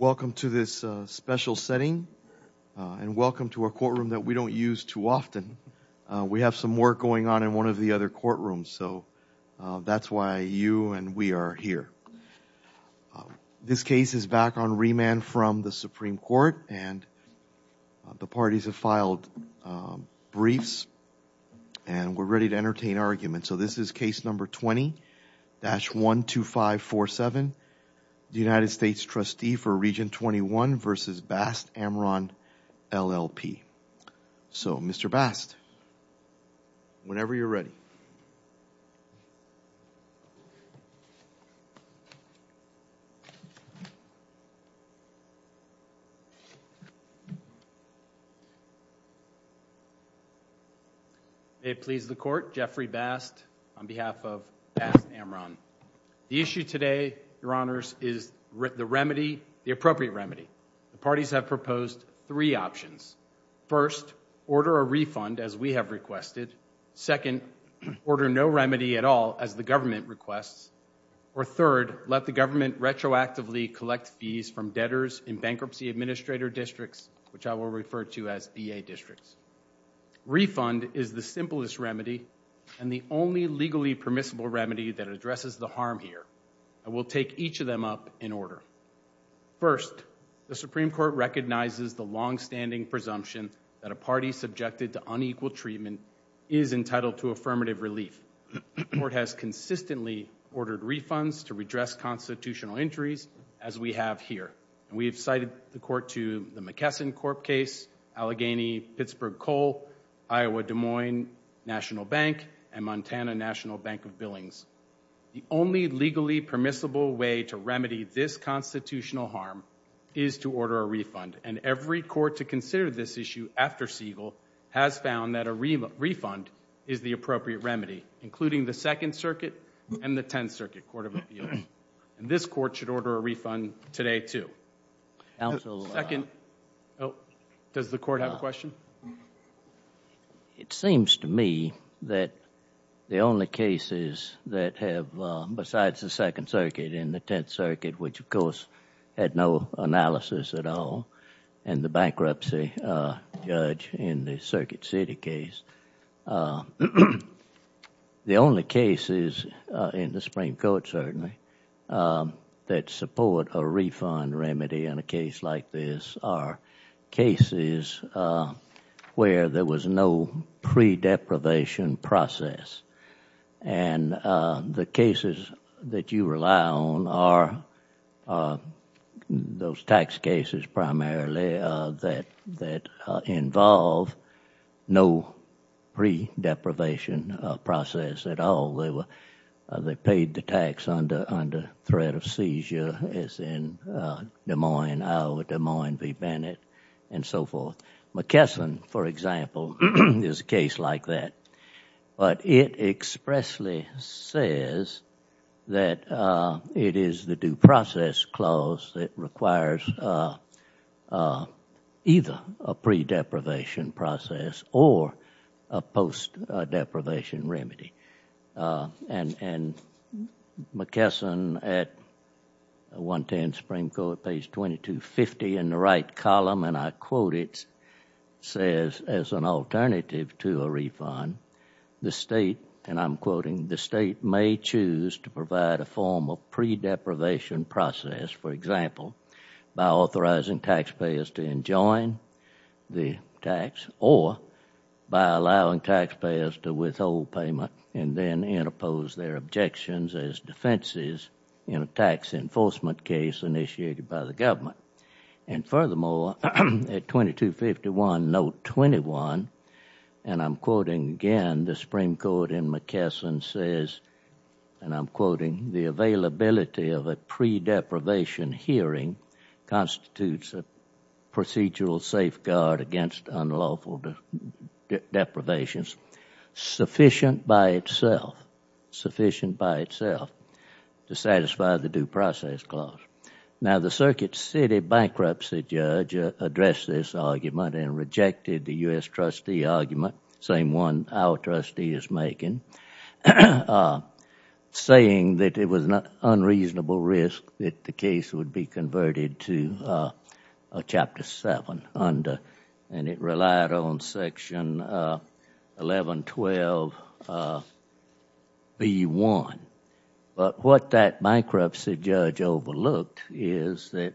Welcome to this special setting and welcome to our courtroom that we don't use too often. We have some work going on in one of the other courtrooms so that's why you and we are here. This case is back on remand from the Supreme Court and the parties have filed briefs and we're ready to entertain argument. So this is case number 20-12547 United States Trustee for Region 21 v. Bast Amron LLP. So Mr. Bast whenever you're ready. May it please the Court, Jeffrey Bast on behalf of Bast Amron. The issue today, Your Honors, is the remedy, the appropriate remedy. The parties have proposed three options. First, order a refund as we have requested. Second, order no remedy at all as the government requests. Or third, let the government retroactively collect fees from debtors in bankruptcy administrator districts which I will refer to as BA districts. Refund is the simplest remedy and the only legally permissible remedy that addresses the harm here. I will take each of them up in order. First, the Supreme Court recognizes the long-standing presumption that a party subjected to unequal treatment is entitled to affirmative relief. The Court has consistently ordered refunds to redress constitutional injuries as we have here. We have cited the Court to the McKesson Corp case, Allegheny-Pittsburgh Cole, Iowa-Des Moines National Bank, and Montana National Bank of Billings. The only legally permissible way to remedy this constitutional harm is to order a refund and every court to consider this issue after Siegel has found that a refund is the appropriate remedy, including the Second Circuit and the Tenth Circuit Court of Appeals. This Court should order a refund today, too. Does the Court have a question? It seems to me that the only cases that have, besides the Second Circuit and the Tenth Circuit, which of course had no analysis at all and the bankruptcy judge in the Circuit City case, the only cases in the Supreme Court certainly that support a refund remedy in a case like this are cases where there was no pre-deprivation process. The cases that you rely on are cases of those tax cases primarily that involve no pre-deprivation process at all. They paid the tax under threat of seizure as in Des Moines, Iowa, Des Moines v. Bennett, and so forth. McKesson, for example, is a case like that, but it expressly says that it is the due process clause that requires either a pre-deprivation process or a post-deprivation remedy. McKesson at 110 Supreme Court, page 2250 in the right column, and I quote it, says, as an alternative to a refund, the State, and I'm quoting, the State may choose to provide a form of pre-deprivation process, for example, by authorizing taxpayers to enjoin the tax or by allowing taxpayers to withhold payment and then interpose their objections as defenses in a tax enforcement case initiated by the government. And furthermore, at 2251, note 21, and I'm quoting again, the pre-deprivation hearing constitutes a procedural safeguard against unlawful deprivations sufficient by itself, sufficient by itself to satisfy the due process clause. Now the Circuit City bankruptcy judge addressed this argument and rejected the U.S. trustee argument, same one our trustee is making, saying that it was an unreasonable risk to that the case would be converted to a Chapter 7 under, and it relied on Section 1112B1. But what that bankruptcy judge overlooked is that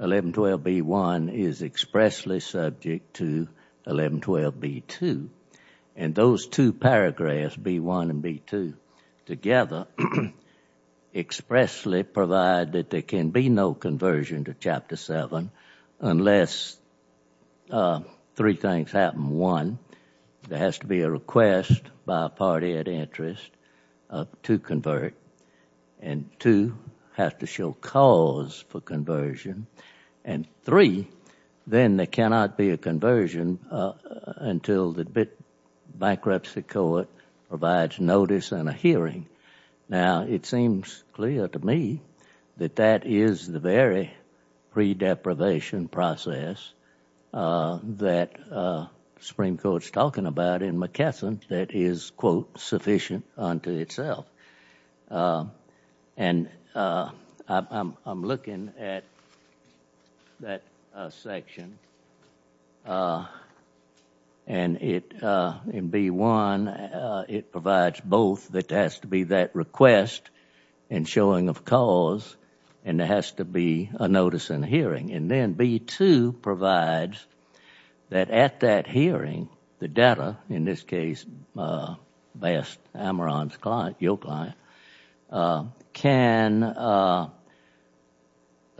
1112B1 is expressly subject to 1112B2, and those two paragraphs, B1 and B2, together expressly provide that there can be no conversion to Chapter 7 unless three things happen. One, there has to be a request by a party at interest to convert, and two, have to show cause for conversion, and three, then there cannot be conversion until the bankruptcy court provides notice and a hearing. Now it seems clear to me that that is the very pre-deprivation process that the Supreme Court is talking about in McKesson that is, quote, sufficient unto itself. And I'm looking at that section, and it, in B1, it provides both that there has to be that request and showing of cause, and there has to be a notice and a hearing. And then B2 provides that at that hearing, the data, in this case Best, Amarant's client, your client, can provide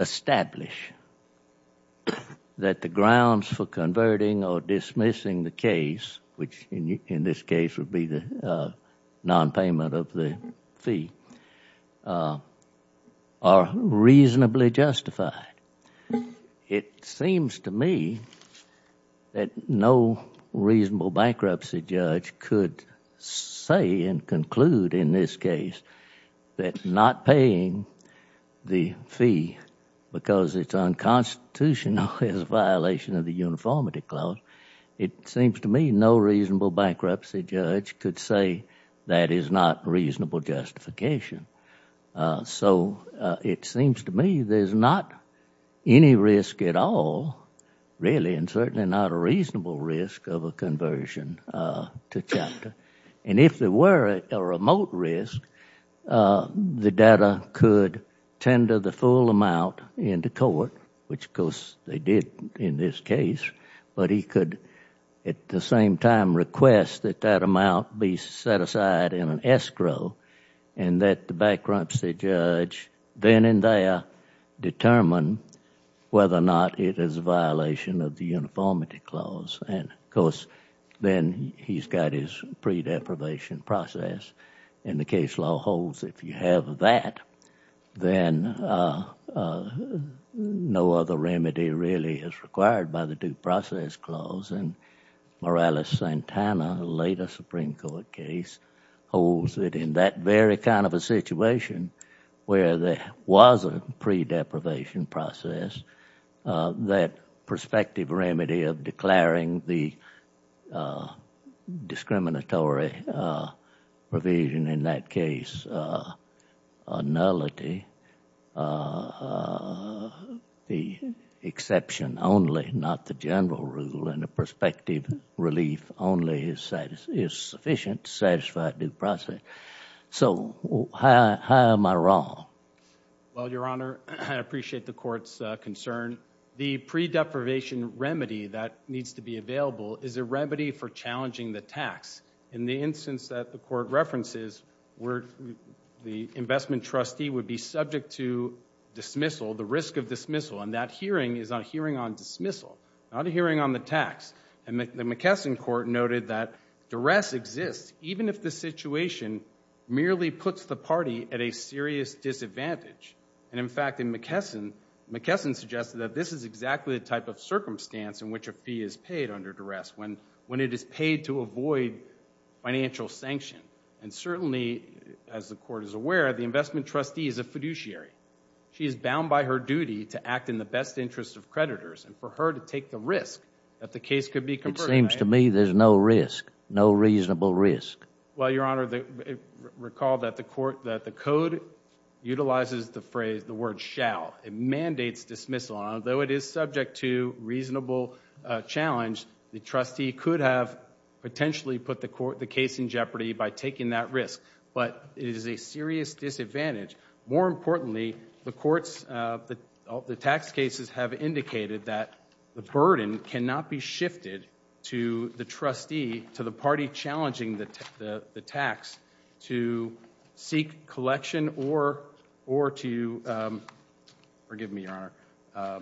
establish that the grounds for converting or dismissing the case, which in this case would be the nonpayment of the fee, are reasonably justified. It seems to me that no reasonable bankruptcy judge could say and conclude in this case that not paying the fee because it's unconstitutional is a violation of the uniformity clause. It seems to me no reasonable bankruptcy judge could say that is not reasonable justification. So it seems to me there's not any risk at all, really, and certainly not a reasonable risk of a conversion to chapter. And if there were a remote risk, the data could tender the full amount into court, which of course they did in this case, but he could at the same time request that that amount be set aside in an escrow, and that the bankruptcy judge then and there determine whether or not it is a violation of the uniformity clause. Of course, then he's got his pre-deprivation process, and the case law holds if you have that, then no other remedy really is required by the due process clause, and Morales-Santana, the latest Supreme Court case, holds that in that very kind of a situation where there was a pre-deprivation process, that prospective remedy of declaring the discriminatory provision in that case a nullity, the exception only, not the general rule, and the prospective relief only is sufficient to satisfy due process. So how am I wrong? Well, Your Honor, I appreciate the court's concern. The pre-deprivation remedy that needs to be available is a remedy for challenging the tax. In the instance that the court references, the investment trustee would be subject to dismissal, the risk of dismissal, and that hearing is a hearing on dismissal, not a hearing on the tax. And the McKesson court noted that if the situation merely puts the party at a serious disadvantage, and in fact, in McKesson, McKesson suggested that this is exactly the type of circumstance in which a fee is paid under duress, when it is paid to avoid financial sanction, and certainly, as the court is aware, the investment trustee is a fiduciary. She is bound by her duty to act in the best interest of creditors, and for her to take the risk that the case could be converted. It seems to me there's no risk, no reasonable risk. Well, Your Honor, recall that the court, that the code utilizes the phrase, the word, shall. It mandates dismissal. Although it is subject to reasonable challenge, the trustee could have potentially put the case in jeopardy by taking that risk. But it is a serious disadvantage. More importantly, the courts, the tax cases have indicated that the burden cannot be shifted to the trustee, to the party challenging the tax, to seek collection or to, forgive me, Your Honor.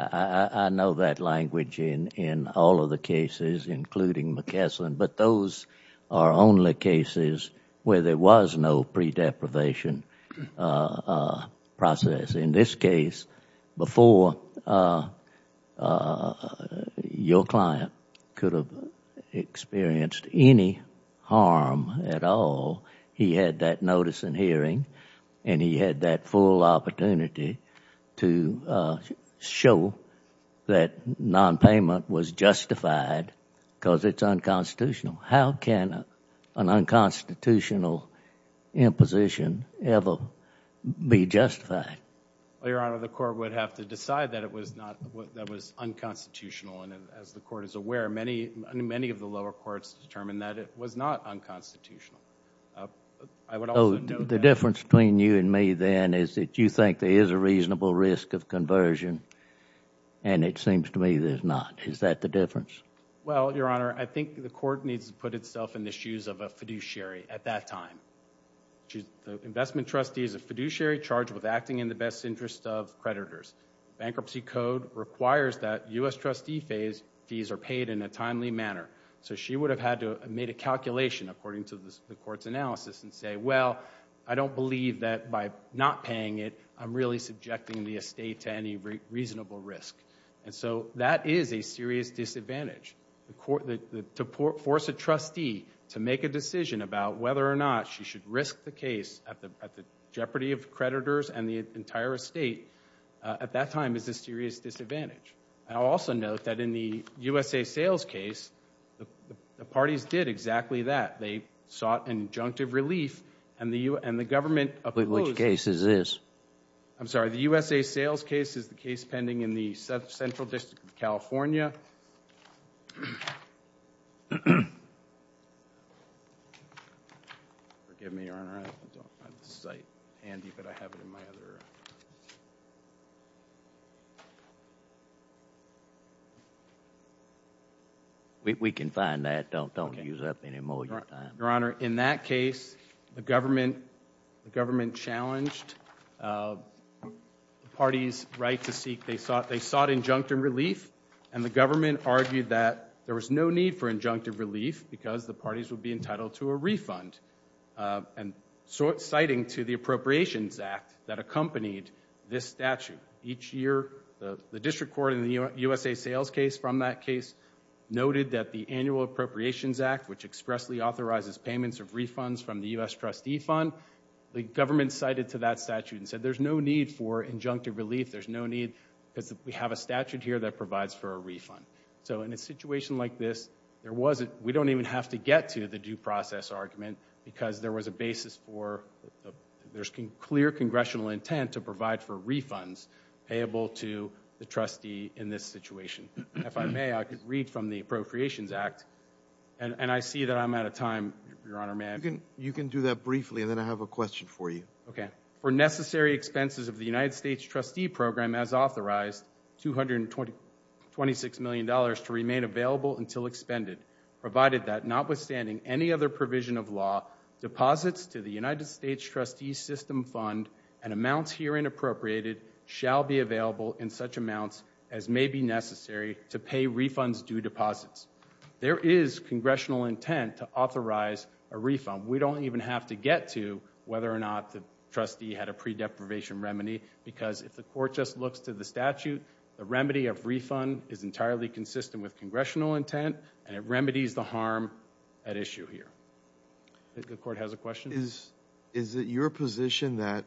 I know that language in all of the cases, including McKesson, but those are only cases where there was no pre-deprivation process. In this case, before your client, before the client could have experienced any harm at all, he had that notice and hearing, and he had that full opportunity to show that non-payment was justified because it's unconstitutional. How can an unconstitutional imposition ever be justified? Well, Your Honor, the court would have to decide that it was not, that it was unconstitutional, and as the court is aware, many of the lower courts determined that it was not unconstitutional. The difference between you and me then is that you think there is a reasonable risk of conversion, and it seems to me there's not. Is that the difference? Well, Your Honor, I think the court needs to put itself in the shoes of a fiduciary at that time. The investment trustee is a fiduciary charged with acting in the best interest of creditors. The bankruptcy code requires that U.S. trustee fees are paid in a timely manner, so she would have had to have made a calculation according to the court's analysis and say, well, I don't believe that by not paying it, I'm really subjecting the estate to any reasonable risk. That is a serious disadvantage. To force a trustee to make a decision about whether or not she should risk the case at the jeopardy of creditors and the entire estate at that time is a serious disadvantage. I'll also note that in the USA Sales case, the parties did exactly that. They sought injunctive relief, and the government opposed... Which case is this? I'm sorry, the USA Sales case is the case pending in the Central District of California. Forgive me, Your Honor, I don't have the site handy, but I have it in my hand. We can find that. Don't use up any more of your time. Your Honor, in that case, the government challenged the parties' right to seek... they sought injunctive relief, and the government argued that there was no need for injunctive relief because the parties would be entitled to a refund. Citing to the Appropriations Act that accompanied this statute, each year the District Court in the USA Sales case from that case noted that the Annual Appropriations Act, which expressly authorizes payments of refunds from the U.S. trustee fund, the government cited to that statute and said there's no need for injunctive relief. There's no need because we have a statute here that provides for a refund. In a situation like this, we don't even have to get to the due process argument because there was a basis for... there's clear Congressional intent to provide for refunds payable to the trustee in this situation. If I may, I could read from the Appropriations Act, and I see that I'm out of time. Your Honor, may I... You can do that briefly, and then I have a question for you. Okay. For necessary expenses of the United States trustee program as authorized, $226 million to remain available until expended, provided that notwithstanding any other provision of law, deposits to the United States trustee system fund and amounts herein appropriated shall be available in such amounts as may be necessary to pay refunds due deposits. There is Congressional intent to authorize a refund. We don't even have to get to whether or not the trustee had a pre-deprivation remedy because if the Court just looks to the statute, the remedy of refund is entirely consistent with Congressional intent, and it remedies the harm at issue here. The Court has a question. Is it your position that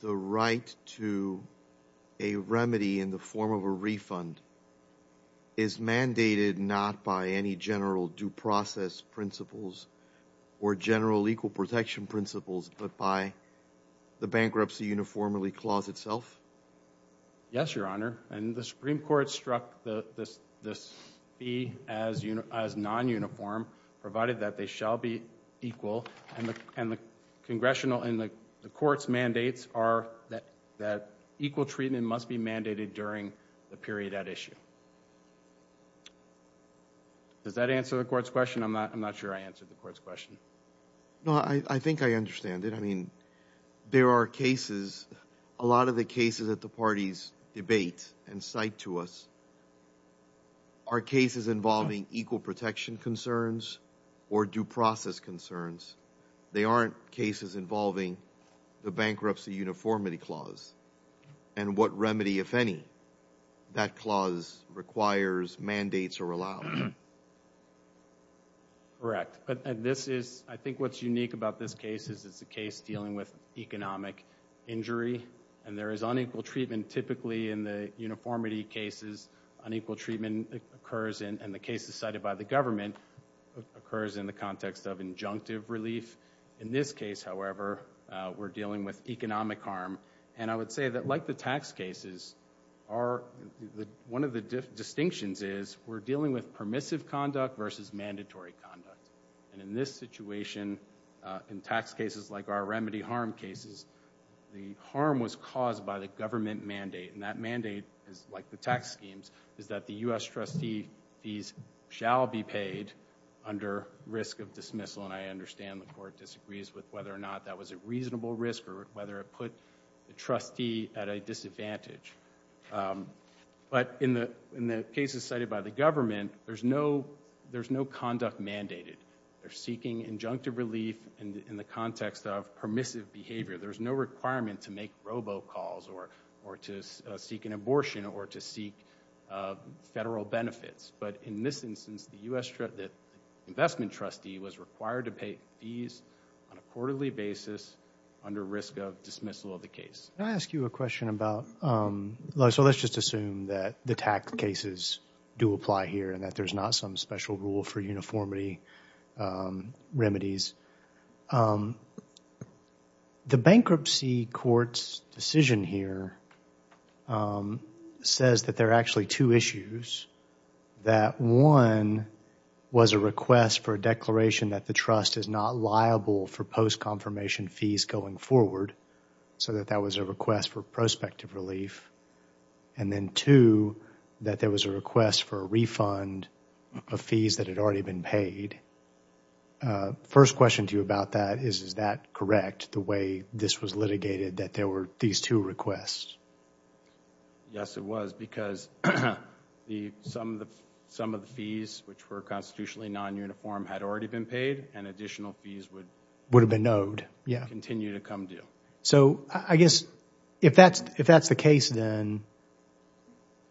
the right to a remedy in the form of a refund is mandated not by any general due process principles or general equal protection principles, but by the Bankruptcy Uniformity Clause itself? Yes, Your Honor, and the Supreme Court struck the fee as non-uniform, provided that they shall be equal, and the Congressional and the Court's mandates are that equal treatment must be mandated during the period at issue. Does that answer the Court's question? I'm not sure I answered the Court's question. No, I think I understand it. I mean, there are cases, a lot of the cases that the parties debate and cite to us are cases involving equal protection concerns or due process concerns. They aren't cases involving the Bankruptcy Uniformity Clause, and what remedy, if any, that clause requires, mandates, or allows. Correct. I think what's unique about this case is it's a case dealing with economic injury, and there is unequal treatment typically in the uniformity cases. Unequal treatment occurs, and the cases cited by the government occurs in the context of injunctive relief. In this case, however, we're dealing with economic harm, and I would say that like the tax cases, one of the distinctions is we're dealing with permissive conduct versus mandatory conduct. In this situation, in tax cases like our remedy harm cases, the harm was caused by the government mandate, and that mandate, like the tax schemes, is that the U.S. trustee fees shall be paid under risk of dismissal, and I understand the Court disagrees with whether or not that was a reasonable risk or whether it put the trustee at a disadvantage, but in the cases cited by the government, there's no conduct mandated. They're seeking injunctive relief in the context of permissive behavior. There's no requirement to make robo-calls or to seek an abortion or to seek federal benefits, but in this instance, the U.S. investment trustee was required to pay fees on a quarterly basis under risk of dismissal of the case. Can I ask you a question about, so let's just assume that the tax cases do apply here and that there's not some special rule for uniformity remedies. The bankruptcy court's decision here says that there are actually two issues, that one was a request for a declaration that the trust is not liable for post-confirmation fees going forward, so that that was a request for prospective relief, and then two, that there was a request for a refund of fees that had already been paid. First question to you about that is, is that correct, the way this was litigated that there were these two requests? Yes, it was, because some of the fees which were constitutionally non-uniform had already been paid, and additional fees would continue to come due. So, I guess, if that's the case then,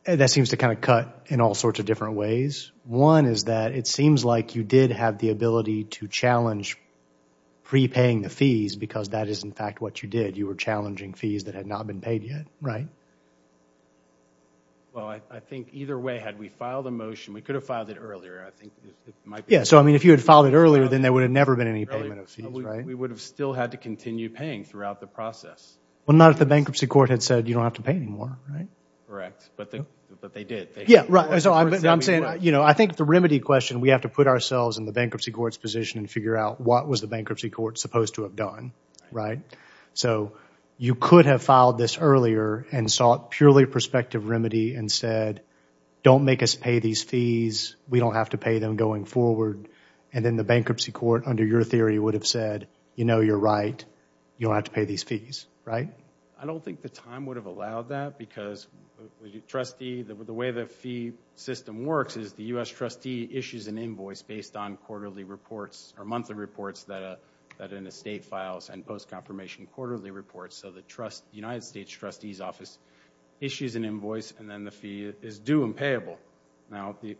that seems to kind of cut in all sorts of different ways. One is that it seems like you did have the ability to challenge prepaying the fees because that is in fact what you did, you were challenging fees that had not been paid yet, right? Well, I think either way, had we filed a motion, we could have filed it earlier, I think it might be... Yeah, so I mean, if you had filed it earlier, then there would have never been any payment of fees, right? We would have still had to continue paying throughout the process. Well, not if the bankruptcy court had said you don't have to pay anymore, right? Correct, but they did. Yeah, right, so I'm saying, you know, I think the remedy question, we have to put ourselves in the bankruptcy court's position and figure out what was the bankruptcy court supposed to have done, right? So, you could have filed this earlier and sought purely a prospective remedy and said, don't make us pay these fees, we don't have to pay them going forward, and then the bankruptcy court, under your theory, would have said, you know, you're right, you don't have to pay these fees, right? I don't think the time would have allowed that because, trustee, the way the fee system works is the U.S. trustee issues an invoice based on quarterly reports or monthly reports that an estate files and post-confirmation quarterly reports, so the United States trustee's office issues an invoice and then the fee is due and payable. Now, the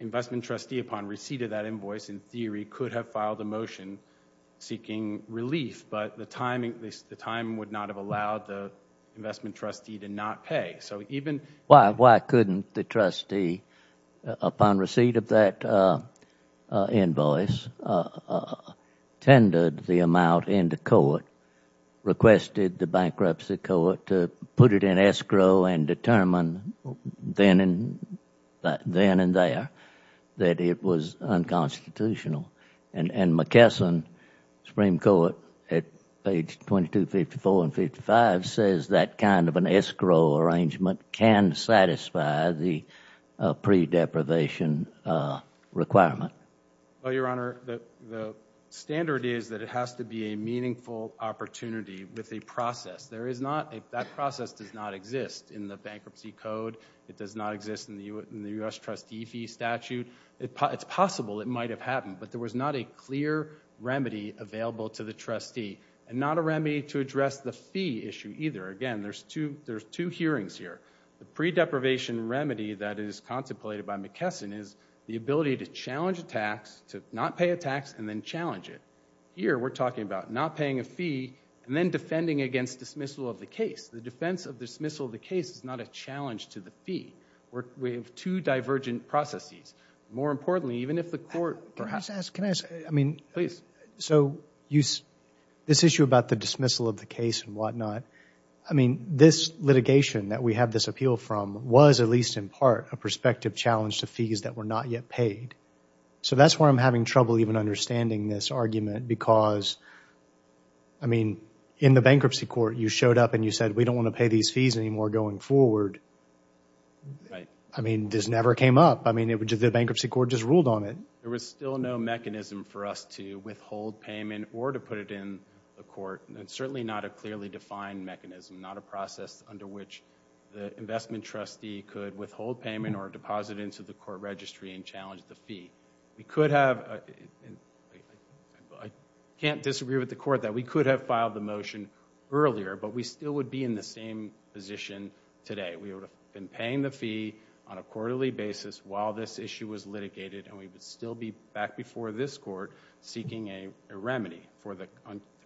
investment trustee, upon receipt of that invoice, in theory, could have filed a motion seeking relief, but the time would not have allowed the investment trustee to not pay. Why couldn't the trustee, upon receipt of that invoice, tendered the amount into court, requested the bankruptcy court to put it in escrow and determine then and there that it was unconstitutional? And McKesson, Supreme Court, at page 2254 and 2255 says that kind of an escrow arrangement can satisfy the pre-deprivation requirement. Well, Your Honor, the standard is that it has to be a meaningful opportunity with a process. That process does not exist in the bankruptcy code. It does not exist in the U.S. trustee fee statute. It's possible it might have happened, but there was not a clear remedy available to the trustee and not a remedy to address the fee issue either. Again, there's two hearings here. The pre-deprivation remedy that is contemplated by McKesson is the ability to challenge a tax, to not pay a tax, and then challenge it. Here, we're talking about not paying a fee and then defending against dismissal of the case. The defense of dismissal of the case is not a challenge to the fee. We have two divergent processes. More importantly, even if the court perhaps— Can I just ask— Please. So this issue about the dismissal of the case and whatnot, I mean, this litigation that we have this appeal from was at least in part a prospective challenge to fees that were not yet paid. So that's why I'm having trouble even understanding this argument because, I mean, in the bankruptcy court, you showed up and you said we don't want to pay these fees anymore going forward. Right. I mean, this never came up. I mean, the bankruptcy court just ruled on it. There was still no mechanism for us to withhold payment or to put it in the court. It's certainly not a clearly defined mechanism, not a process under which the investment trustee could withhold payment or deposit it into the court registry and challenge the fee. We could have—I can't disagree with the court that we could have filed the motion earlier, but we still would be in the same position today. We would have been paying the fee on a quarterly basis while this issue was litigated, and we would still be back before this court seeking a remedy for the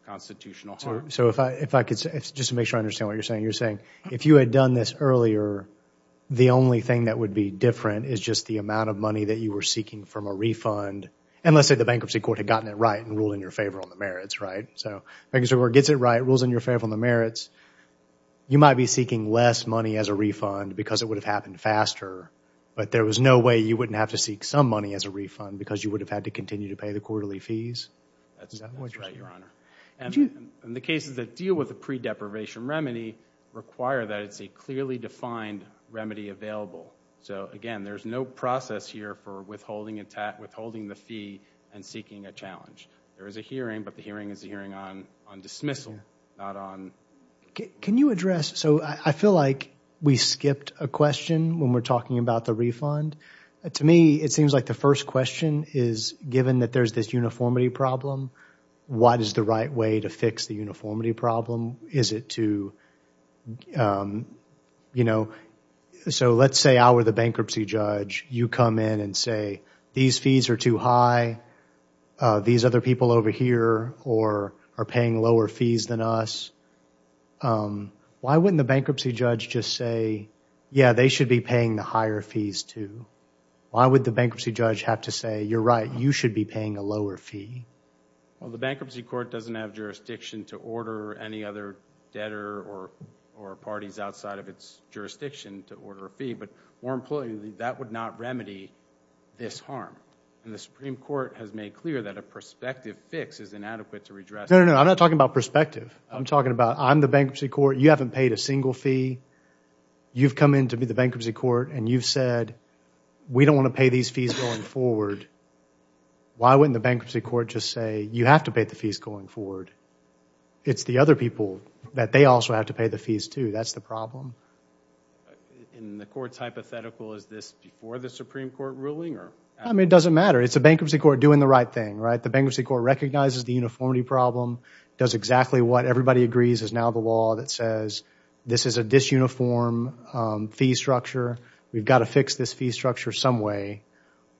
constitutional harm. So if I could just make sure I understand what you're saying. You're saying if you had done this earlier, the only thing that would be different is just the amount of money that you were seeking from a refund. And let's say the bankruptcy court had gotten it right and ruled in your favor on the merits, right? So if the bankruptcy court gets it right, rules in your favor on the merits, you might be seeking less money as a refund because it would have happened faster, but there was no way you wouldn't have to seek some money as a refund because you would have had to continue to pay the quarterly fees? Is that what you're saying? That's right, Your Honor. And the cases that deal with a pre-deprivation remedy require that it's a clearly defined remedy available. So, again, there's no process here for withholding the fee and seeking a challenge. There is a hearing, but the hearing is a hearing on dismissal, not on... Can you address... So I feel like we skipped a question when we're talking about the refund. To me, it seems like the first question is, given that there's this uniformity problem, what is the right way to fix the uniformity problem? Is it to, you know... So let's say I were the bankruptcy judge. You come in and say, these fees are too high, these other people over here are paying lower fees than us. Why wouldn't the bankruptcy judge just say, yeah, they should be paying the higher fees too? Why would the bankruptcy judge have to say, you're right, you should be paying a lower fee? Well, the bankruptcy court doesn't have jurisdiction to order any other debtor or parties outside of its jurisdiction to order a fee, but more importantly, that would not remedy this harm. And the Supreme Court has made clear that a prospective fix is inadequate to redress that. No, no, no. I'm not talking about prospective. I'm talking about, I'm the bankruptcy court. You haven't paid a single fee. You've come in to be the bankruptcy court and you've said, we don't want to pay these fees going forward. Why wouldn't the bankruptcy court just say, you have to pay the fees going forward? It's the other people that they also have to pay the fees too. That's the problem. In the court's hypothetical, is this before the Supreme Court ruling? I mean, it doesn't matter. It's a bankruptcy court doing the right thing, right? The bankruptcy court recognizes the uniformity problem, does exactly what everybody agrees is now the law that says, this is a disuniform fee structure. We've got to fix this fee structure some way.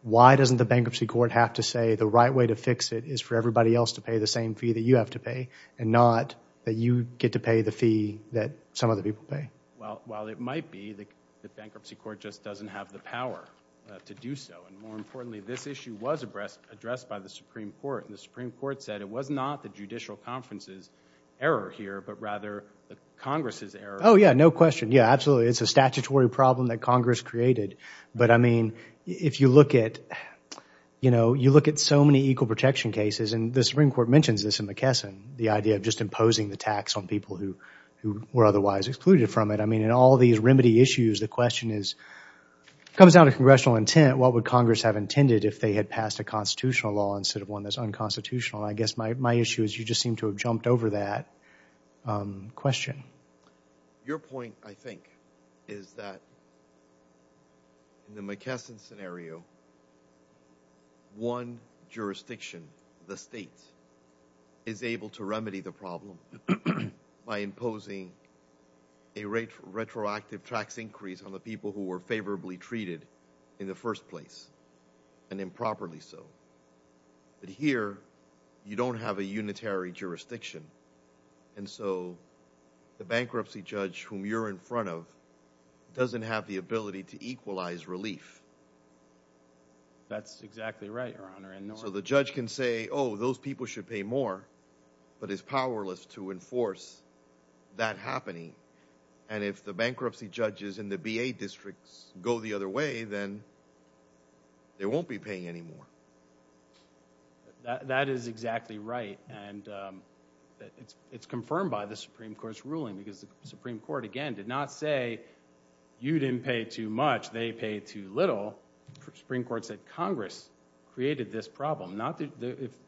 Why doesn't the bankruptcy court have to say, the right way to fix it is for everybody else to pay the same fee that you have to pay and not that you get to pay the fee that some other people pay? Well, while it might be, the bankruptcy court just doesn't have the power to do so. More importantly, this issue was addressed by the Supreme Court and the Supreme Court said, it was not the judicial conference's error here, but rather the Congress's error. Oh, yeah. No question. Yeah, absolutely. It's a statutory problem that Congress created. But, I mean, if you look at, you know, you look at so many equal protection cases and the Supreme Court mentions this in McKesson, the idea of just imposing the tax on people who were otherwise excluded from it. I mean, in all these remedy issues, the question is, comes down to congressional intent. What would Congress have intended if they had passed a constitutional law instead of one that's unconstitutional? I guess my issue is you just seem to have jumped over that question. Your point, I think, is that in the McKesson scenario, one jurisdiction, the state, is by imposing a retroactive tax increase on the people who were favorably treated in the first place and improperly so. But here, you don't have a unitary jurisdiction. And so, the bankruptcy judge whom you're in front of doesn't have the ability to equalize That's exactly right, Your Honor. So the judge can say, oh, those people should pay more, but is powerless to enforce that happening. And if the bankruptcy judges in the BA districts go the other way, then they won't be paying any more. That is exactly right. And it's confirmed by the Supreme Court's ruling because the Supreme Court, again, did not say, you didn't pay too much, they paid too little. The Supreme Court said, Congress created this problem.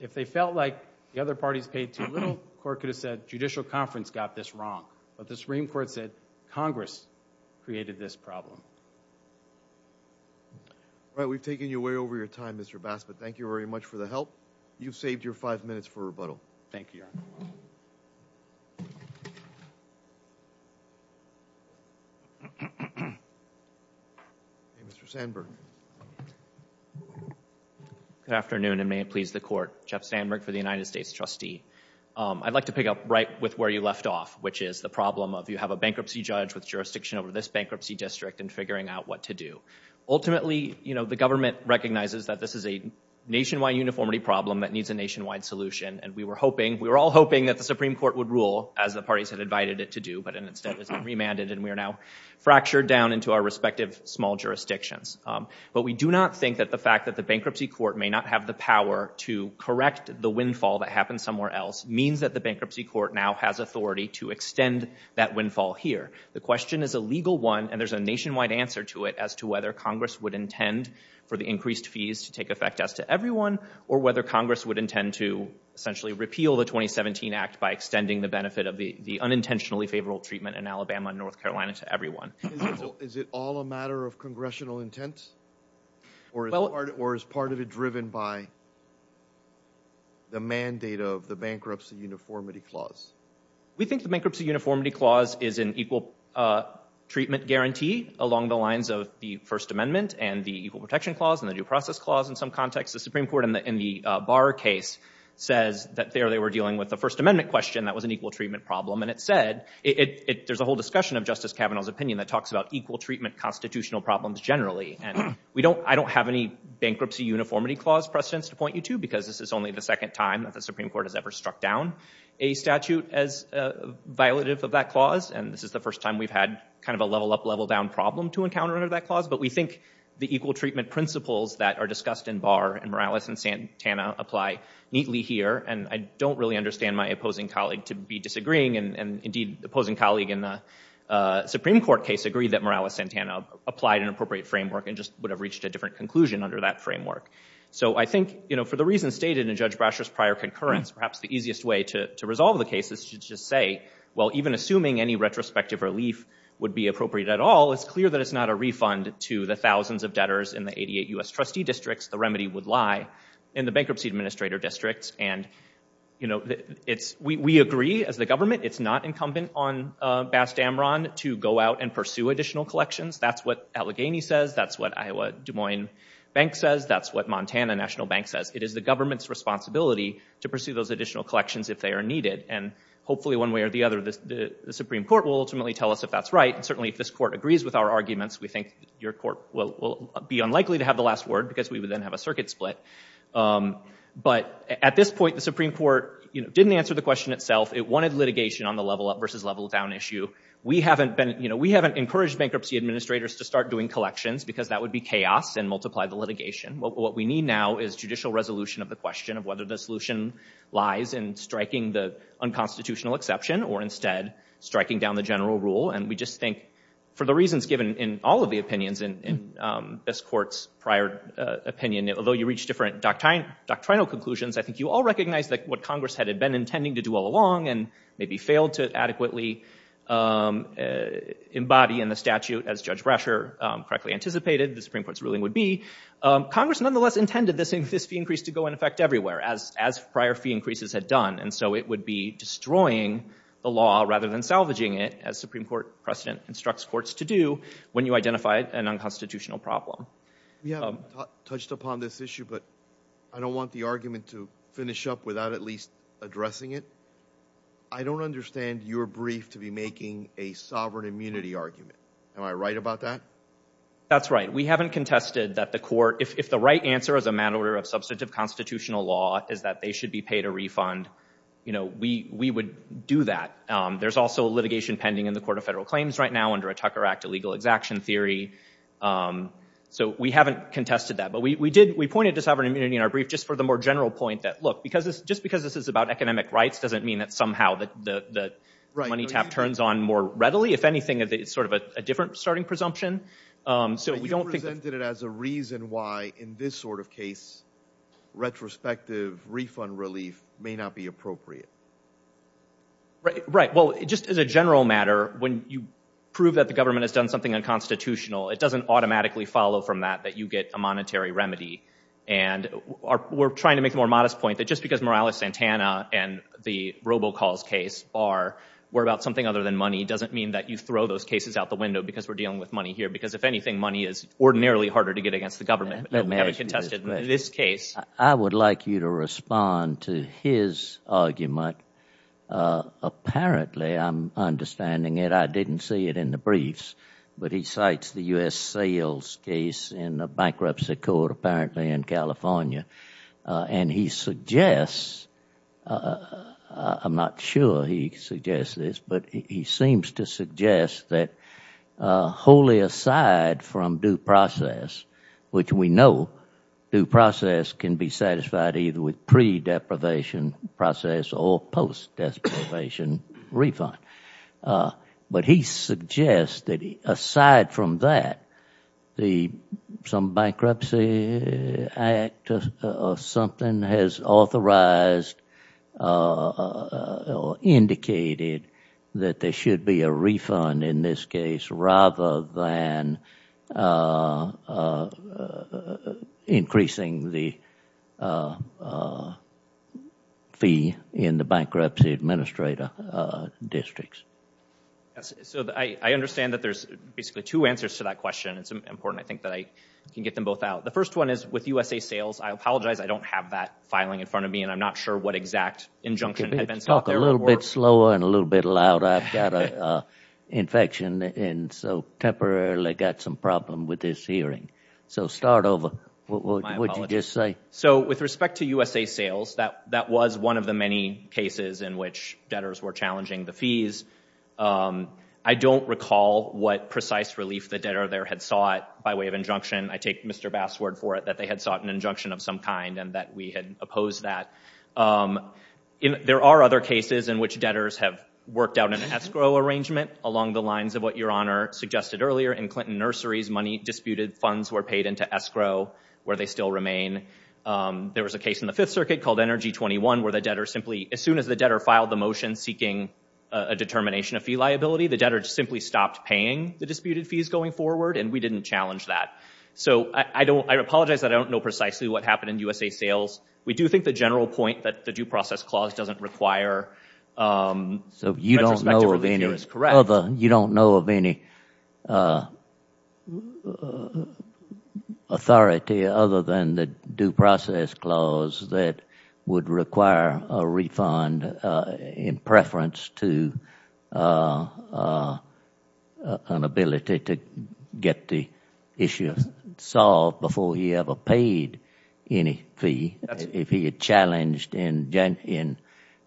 If they felt like the other parties paid too little, the court could have said, Judicial Conference got this wrong. But the Supreme Court said, Congress created this problem. All right, we've taken you way over your time, Mr. Bass. But thank you very much for the help. You've saved your five minutes for rebuttal. Thank you, Your Honor. Mr. Sandberg. Good afternoon, and may it please the court. Jeff Sandberg for the United States trustee. I'd like to pick up right with where you left off, which is the problem of you have a bankruptcy judge with jurisdiction over this bankruptcy district and figuring out what to do. Ultimately, you know, the government recognizes that this is a nationwide uniformity problem that needs a nationwide solution. And we were hoping, we were all hoping that the Supreme Court would rule, as the parties had invited it to do, but instead it's been remanded, and we are now fractured down into our respective small jurisdictions. But we do not think that the fact that the bankruptcy court may not have the power to correct the windfall that happened somewhere else means that the bankruptcy court now has authority to extend that windfall here. The question is a legal one, and there's a nationwide answer to it as to whether Congress would intend for the increased fees to take effect as to everyone, or whether Congress would intend to essentially repeal the 2017 Act by extending the benefit of the unintentionally favorable treatment in Alabama and North Carolina to everyone. Is it all a matter of congressional intent? Or is part of it driven by the mandate of the bankruptcy uniformity clause? We think the bankruptcy uniformity clause is an equal treatment guarantee along the lines of the First Amendment and the Equal Protection Clause and the Due Process Clause in some contexts. The Supreme Court in the Barr case says that there they were dealing with the First Amendment question that was an equal treatment problem. And it said, there's a whole discussion of Justice Kavanaugh's opinion that talks about equal treatment constitutional problems generally. And I don't have any bankruptcy uniformity clause precedents to point you to, because this is only the second time that the Supreme Court has ever struck down a statute as violative of that clause. And this is the first time we've had kind of a level up, level down problem to encounter under that clause. But we think the equal treatment principles that are discussed in Barr and Morales and Santana apply neatly here. And I don't really understand my opposing colleague to be disagreeing. And indeed, the opposing colleague in the Supreme Court case agreed that Morales-Santana applied an appropriate framework and just would have reached a different conclusion under that framework. So I think for the reasons stated in Judge Brasher's prior concurrence, perhaps the easiest way to resolve the case is to just say, well, even assuming any retrospective relief would be appropriate at all, it's clear that it's not a refund to the thousands of debtors in the 88 U.S. trustee districts. The remedy would lie in the bankruptcy administrator districts. And, you know, we agree as the government it's not incumbent on Bass Dameron to go out and pursue additional collections. That's what Allegheny says. That's what Iowa-Des Moines Bank says. That's what Montana National Bank says. It is the government's responsibility to pursue those additional collections if they are needed. And hopefully, one way or the other, the Supreme Court will ultimately tell us if that's right and certainly if this court agrees with our arguments, we think your court will be unlikely to have the last word because we would then have a circuit split. But at this point, the Supreme Court, you know, didn't answer the question itself. It wanted litigation on the level up versus level down issue. We haven't been, you know, we haven't encouraged bankruptcy administrators to start doing collections because that would be chaos and multiply the litigation. What we need now is judicial resolution of the question of whether the solution lies in striking the unconstitutional exception or instead striking down the general rule. And we just think for the reasons given in all of the opinions in this court's prior opinion, although you reach different doctrinal conclusions, I think you all recognize that what Congress had been intending to do all along and maybe failed to adequately embody in the statute as Judge Brasher correctly anticipated the Supreme Court's ruling would be, Congress nonetheless intended this fee increase to go in effect everywhere, as prior fee increases had done. And so it would be destroying the law rather than salvaging it as Supreme Court precedent instructs courts to do when you identify an unconstitutional problem. We haven't touched upon this issue, but I don't want the argument to finish up without at least addressing it. I don't understand your brief to be making a sovereign immunity argument. Am I right about that? That's right. We haven't contested that the court, if the right answer as a matter of substantive constitutional law is that they should be paid a refund, we would do that. There's also litigation pending in the Court of Federal Claims right now under a Tucker Act illegal exaction theory. So we haven't contested that. But we pointed to sovereign immunity in our brief just for the more general point that, look, just because this is about economic rights doesn't mean that somehow the money tap turns on more readily. If anything, it's sort of a different starting presumption. But you presented it as a reason why, in this sort of case, retrospective refund relief may not be appropriate. Right. Well, just as a general matter, when you prove that the government has done something unconstitutional, it doesn't automatically follow from that that you get a monetary remedy. And we're trying to make the more modest point that just because Morales-Santana and the robocalls case are about something other than money doesn't mean that you throw those cases out the window because we're dealing with money here. Because, if anything, money is ordinarily harder to get against the government. We haven't contested this case. I would like you to respond to his argument. Apparently, I'm understanding it, I didn't see it in the briefs, but he cites the U.S. sales case in the Bankruptcy Court apparently in California. And he suggests, I'm not sure he suggests this, but he seems to suggest that wholly aside from due process, which we know due process can be satisfied either with pre-deprivation process or post-deprivation refund. But he suggests that aside from that, some bankruptcy act or something has authorized or indicated that there should be a refund in this case rather than increasing the fee in the bankruptcy administrator districts. So I understand that there's basically two answers to that question. It's important, I think, that I can get them both out. The first one is with USA Sales, I apologize, I don't have that filing in front of me and I'm not sure what exact injunction had been set up there. Talk a little bit slower and a little bit louder. I've got an infection and so temporarily got some problem with this hearing. So start over. My apologies. What did you just say? So with respect to USA Sales, that was one of the many cases in which debtors were challenging the fees. I don't recall what precise relief the debtor there had sought by way of injunction. I take Mr. Bass's word for it that they had sought an injunction of some kind and that we had opposed that. There are other cases in which debtors have worked out an escrow arrangement along the lines of what Your Honor suggested earlier in Clinton Nursery's money disputed funds were paid into escrow where they still remain. There was a case in the Fifth Circuit called NRG 21 where the debtor simply, as soon as the debtor filed the motion seeking a determination of fee liability, the debtor simply stopped paying the disputed fees going forward and we didn't challenge that. So I apologize that I don't know precisely what happened in USA Sales. We do think the general point that the due process clause doesn't require retrospective relief here is correct. You don't know of any authority other than the due process clause that would require a refund in preference to an ability to get the issue solved before he ever paid any fee. If he had challenged in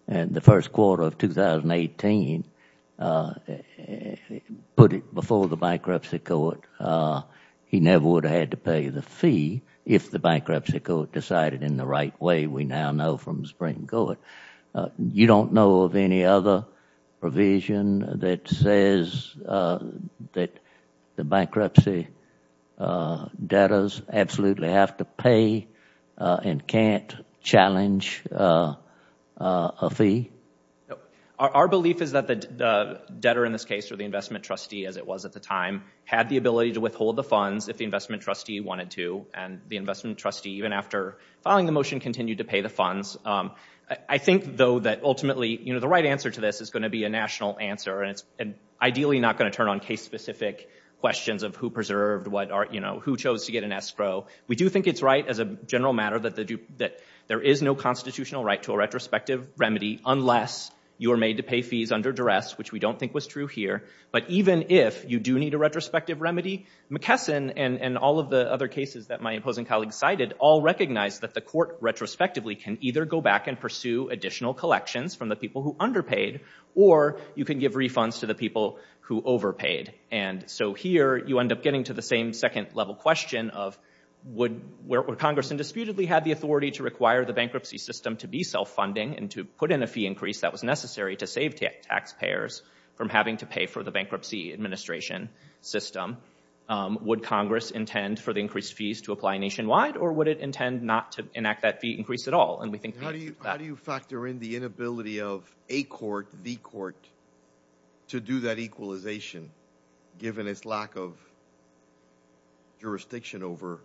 the first quarter of 2018, put it before the bankruptcy court, he never would have had to pay the fee if the bankruptcy court decided in the right way, we now know from the Supreme Court. You don't know of any other provision that says that the bankruptcy debtors absolutely have to pay and can't challenge a fee? Our belief is that the debtor in this case, or the investment trustee as it was at the time, had the ability to withhold the funds if the investment trustee wanted to and the investment trustee, even after filing the motion, continued to pay the funds. I think, though, that ultimately the right answer to this is going to be a national answer and it's ideally not going to turn on case-specific questions of who preserved, who chose to get an escrow. We do think it's right as a general matter that there is no constitutional right to a retrospective remedy unless you are made to pay fees under duress, which we don't think was true here. But even if you do need a retrospective remedy, McKesson and all of the other cases that my opposing colleague cited all recognized that the court retrospectively can either go back and pursue additional collections from the people who underpaid or you can give refunds to the people who overpaid. And so here you end up getting to the same second-level question of would Congress indisputably have the authority to require the bankruptcy system to be self-funding and to put in a fee increase that was necessary to save taxpayers from having to pay for the bankruptcy administration system? Would Congress intend for the increased fees to apply nationwide or would it intend not to enact that fee increase at all? How do you factor in the inability of a court, the court, to do that equalization given its lack of jurisdiction over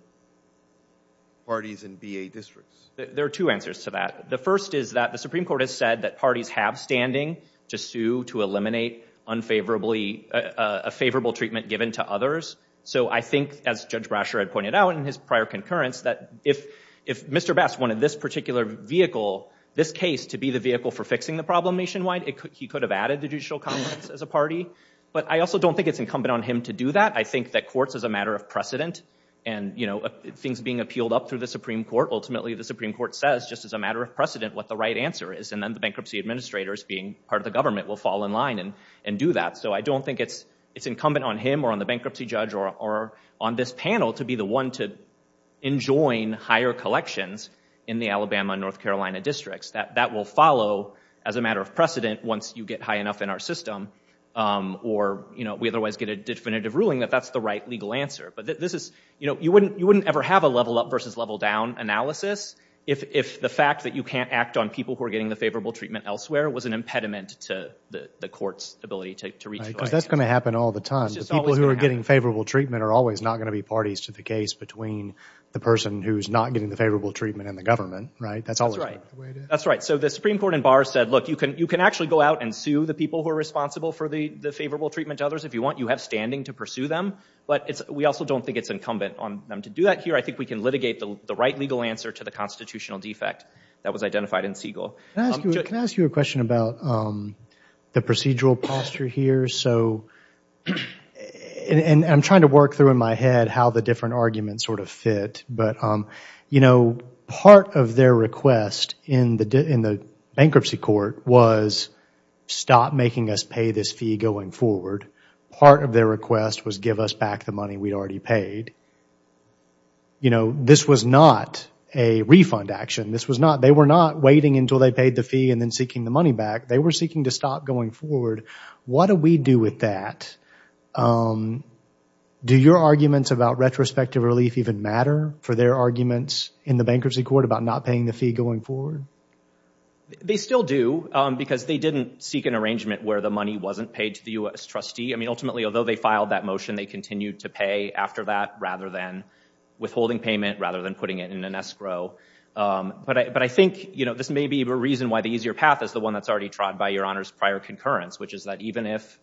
parties in BA districts? There are two answers to that. The first is that the Supreme Court has said that parties have standing to sue to eliminate a favorable treatment given to others. So I think, as Judge Brasher had pointed out in his prior concurrence, that if Mr. Bass wanted this particular vehicle, this case, to be the vehicle for fixing the problem nationwide, he could have added the judicial comments as a party. But I also don't think it's incumbent on him to do that. I think that courts, as a matter of precedent, and things being appealed up through the Supreme Court, ultimately the Supreme Court says just as a matter of precedent what the right answer is and then the bankruptcy administrators being part of the government will fall in line and do that. So I don't think it's incumbent on him or on the bankruptcy judge or on this panel to be the one to enjoin higher collections in the Alabama and North Carolina districts. That will follow as a matter of precedent once you get high enough in our system or we otherwise get a definitive ruling that that's the right legal answer. But you wouldn't ever have a level up versus level down analysis if the fact that you can't act on people who are getting the favorable treatment elsewhere was an impediment to the court's ability to reach the right answer. Right, because that's going to happen all the time. People who are getting favorable treatment are always not going to be parties to the case between the person who's not getting the favorable treatment and the government, right? That's always the way it is. That's right. So the Supreme Court in Barr said, look, you can actually go out and sue the people who are responsible for the favorable treatment to others if you want. You have standing to pursue them. But we also don't think it's incumbent on them to do that here. I think we can litigate the right legal answer to the constitutional defect that was identified in Siegel. Can I ask you a question about the procedural posture here? So I'm trying to work through in my head how the different arguments sort of fit. But part of their request in the bankruptcy court was stop making us pay this fee going forward. Part of their request was give us back the money we'd already paid. This was not a refund action. They were not waiting until they paid the fee and then seeking the money back. They were seeking to stop going forward. What do we do with that? Do your arguments about retrospective relief even matter for their arguments in the bankruptcy court about not paying the fee going forward? They still do because they didn't seek an arrangement where the money wasn't paid to the U.S. trustee. I mean, ultimately, although they filed that motion, they continued to pay after that rather than withholding payment, rather than putting it in an escrow. But I think this may be a reason why the easier path is the one that's already trod by Your Honor's prior concurrence, which is that even if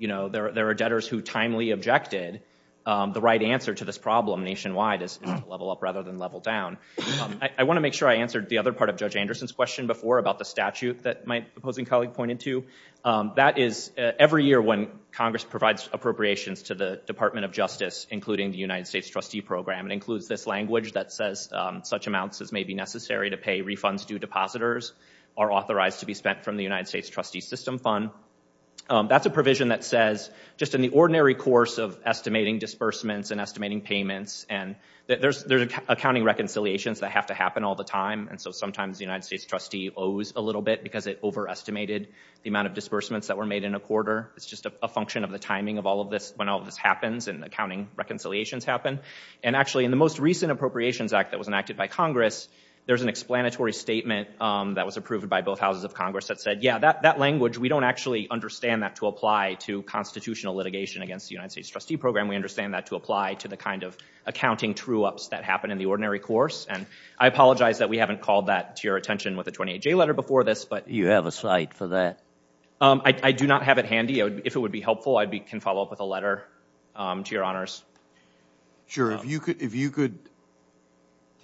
there are debtors who timely objected, the right answer to this problem nationwide is to level up rather than level down. I want to make sure I answered the other part of Judge Anderson's question before about the statute that my opposing colleague pointed to. That is every year when Congress provides appropriations to the Department of Justice, including the United States trustee program, it includes this language that says such amounts as may be necessary to pay refunds due depositors are authorized to be spent from the United States trustee system fund. That's a provision that says just in the ordinary course of estimating disbursements and estimating payments, and there's accounting reconciliations that have to happen all the time. And so sometimes the United States trustee owes a little bit because it overestimated the amount of disbursements that were made in a quarter. It's just a function of the timing of all of this when all of this happens and accounting reconciliations happen. And actually, in the most recent Appropriations Act that was enacted by Congress, there's an explanatory statement that was approved by both houses of Congress that said, yeah, that language, we don't actually understand that to apply to constitutional litigation against the United States trustee program. We understand that to apply to the kind of accounting true ups that happen in the ordinary course. And I apologize that we haven't called that to your attention with the 28-J letter before this. But you have a slide for that. I do not have it handy. If it would be helpful, I can follow up with a letter to your honors. Sure. If you could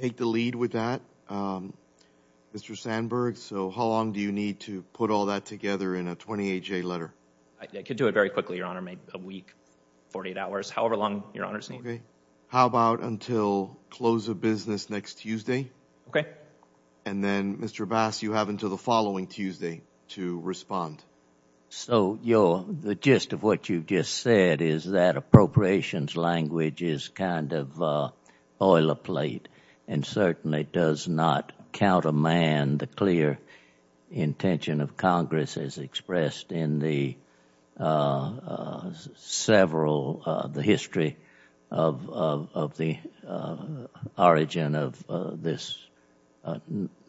take the lead with that, Mr. Sandberg, so how long do you need to put all that together in a 28-J letter? I could do it very quickly, your honor, maybe a week, 48 hours, however long your honors need. Okay. How about until close of business next Tuesday? Okay. And then, Mr. Bass, you have until the following Tuesday to respond. So the gist of what you just said is that appropriations language is kind of a boilerplate and certainly does not countermand the clear intention of Congress as expressed in the history of the origin of this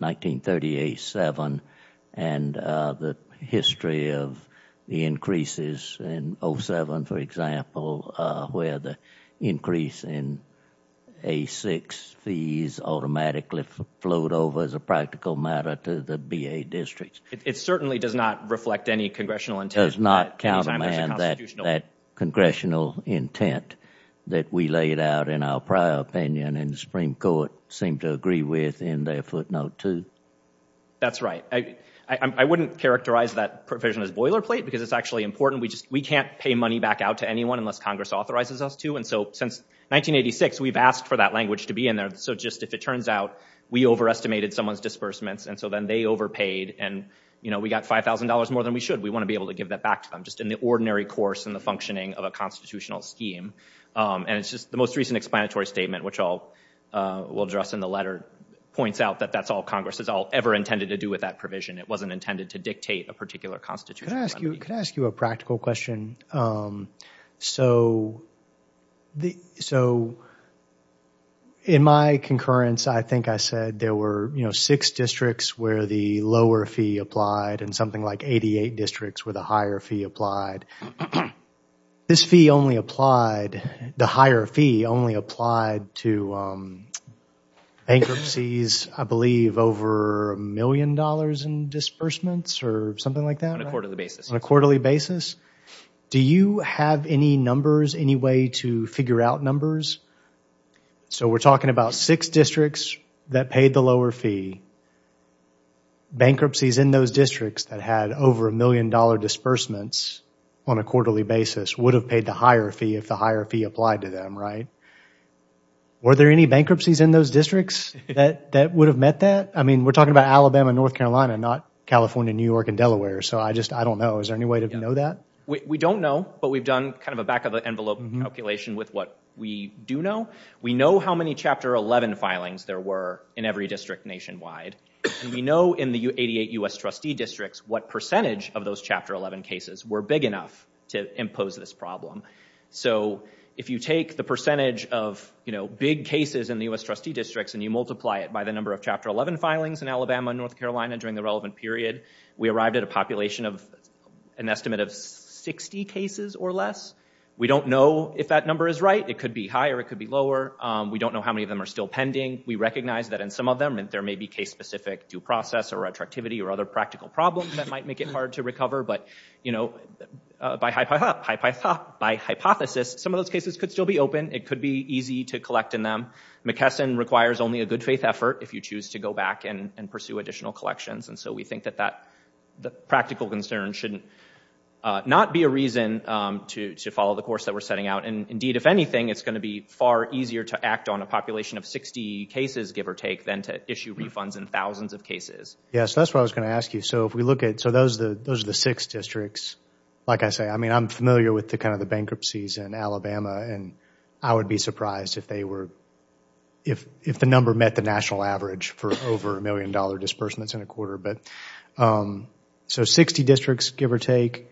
1938-7 and the history of the increases in 07, for example, where the increase in A6 fees automatically flowed over as a practical matter to the B.A. districts. It certainly does not reflect any congressional intent. It does not countermand that congressional intent that we laid out in our prior opinion and the Supreme Court seemed to agree with in their footnote, too. That's right. I wouldn't characterize that provision as boilerplate because it's actually important. We can't pay money back out to anyone unless Congress authorizes us to. And so since 1986, we've asked for that language to be in there. So just if it turns out we overestimated someone's disbursements and so then they overpaid and we got $5,000 more than we should, we want to be able to give that back to them, just in the ordinary course and the functioning of a constitutional scheme. And it's just the most recent explanatory statement, which we'll address in the letter, points out that that's all Congress has ever intended to do with that provision. It wasn't intended to dictate a particular constitutional remedy. Could I ask you a practical question? So in my concurrence, I think I said there were six districts where the lower fee applied and something like 88 districts where the higher fee applied. This fee only applied, the higher fee only applied to bankruptcies, I believe, over a million dollars in disbursements or something like that? On a quarterly basis. On a quarterly basis. Do you have any numbers, any way to figure out numbers? So we're talking about six districts that paid the lower fee, bankruptcies in those districts that had over a million dollar disbursements on a quarterly basis would have paid the higher fee if the higher fee applied to them, right? Were there any bankruptcies in those districts that would have met that? I mean, we're talking about Alabama and North Carolina, not California, New York, and Delaware. So I just, I don't know. Is there any way to know that? We don't know, but we've done kind of a back of the envelope calculation with what we do know. We know how many Chapter 11 filings there were in every district nationwide. We know in the 88 U.S. trustee districts what percentage of those Chapter 11 cases were big enough to impose this problem. So if you take the percentage of, you know, big cases in the U.S. trustee districts and you multiply it by the number of Chapter 11 filings in Alabama and North Carolina during the relevant period, we arrived at a population of an estimate of 60 cases or less. We don't know if that number is right. It could be higher. It could be lower. We don't know how many of them are still pending. We recognize that in some of them there may be case-specific due process or retroactivity or other practical problems that might make it hard to recover. But, you know, by hypothesis, some of those cases could still be open. It could be easy to collect in them. McKesson requires only a good-faith effort if you choose to go back and pursue additional collections. And so we think that that practical concern shouldn't not be a reason to follow the course that we're setting out. And, indeed, if anything, it's going to be far easier to act on a population of 60 cases, give or take, than to issue refunds in thousands of cases. Yes. That's what I was going to ask you. So if we look at – so those are the six districts. Like I say, I mean, I'm familiar with the kind of the bankruptcies in Alabama, and I would be surprised if they were – if the number met the national average for over a million-dollar disbursements in a quarter. So 60 districts, give or take,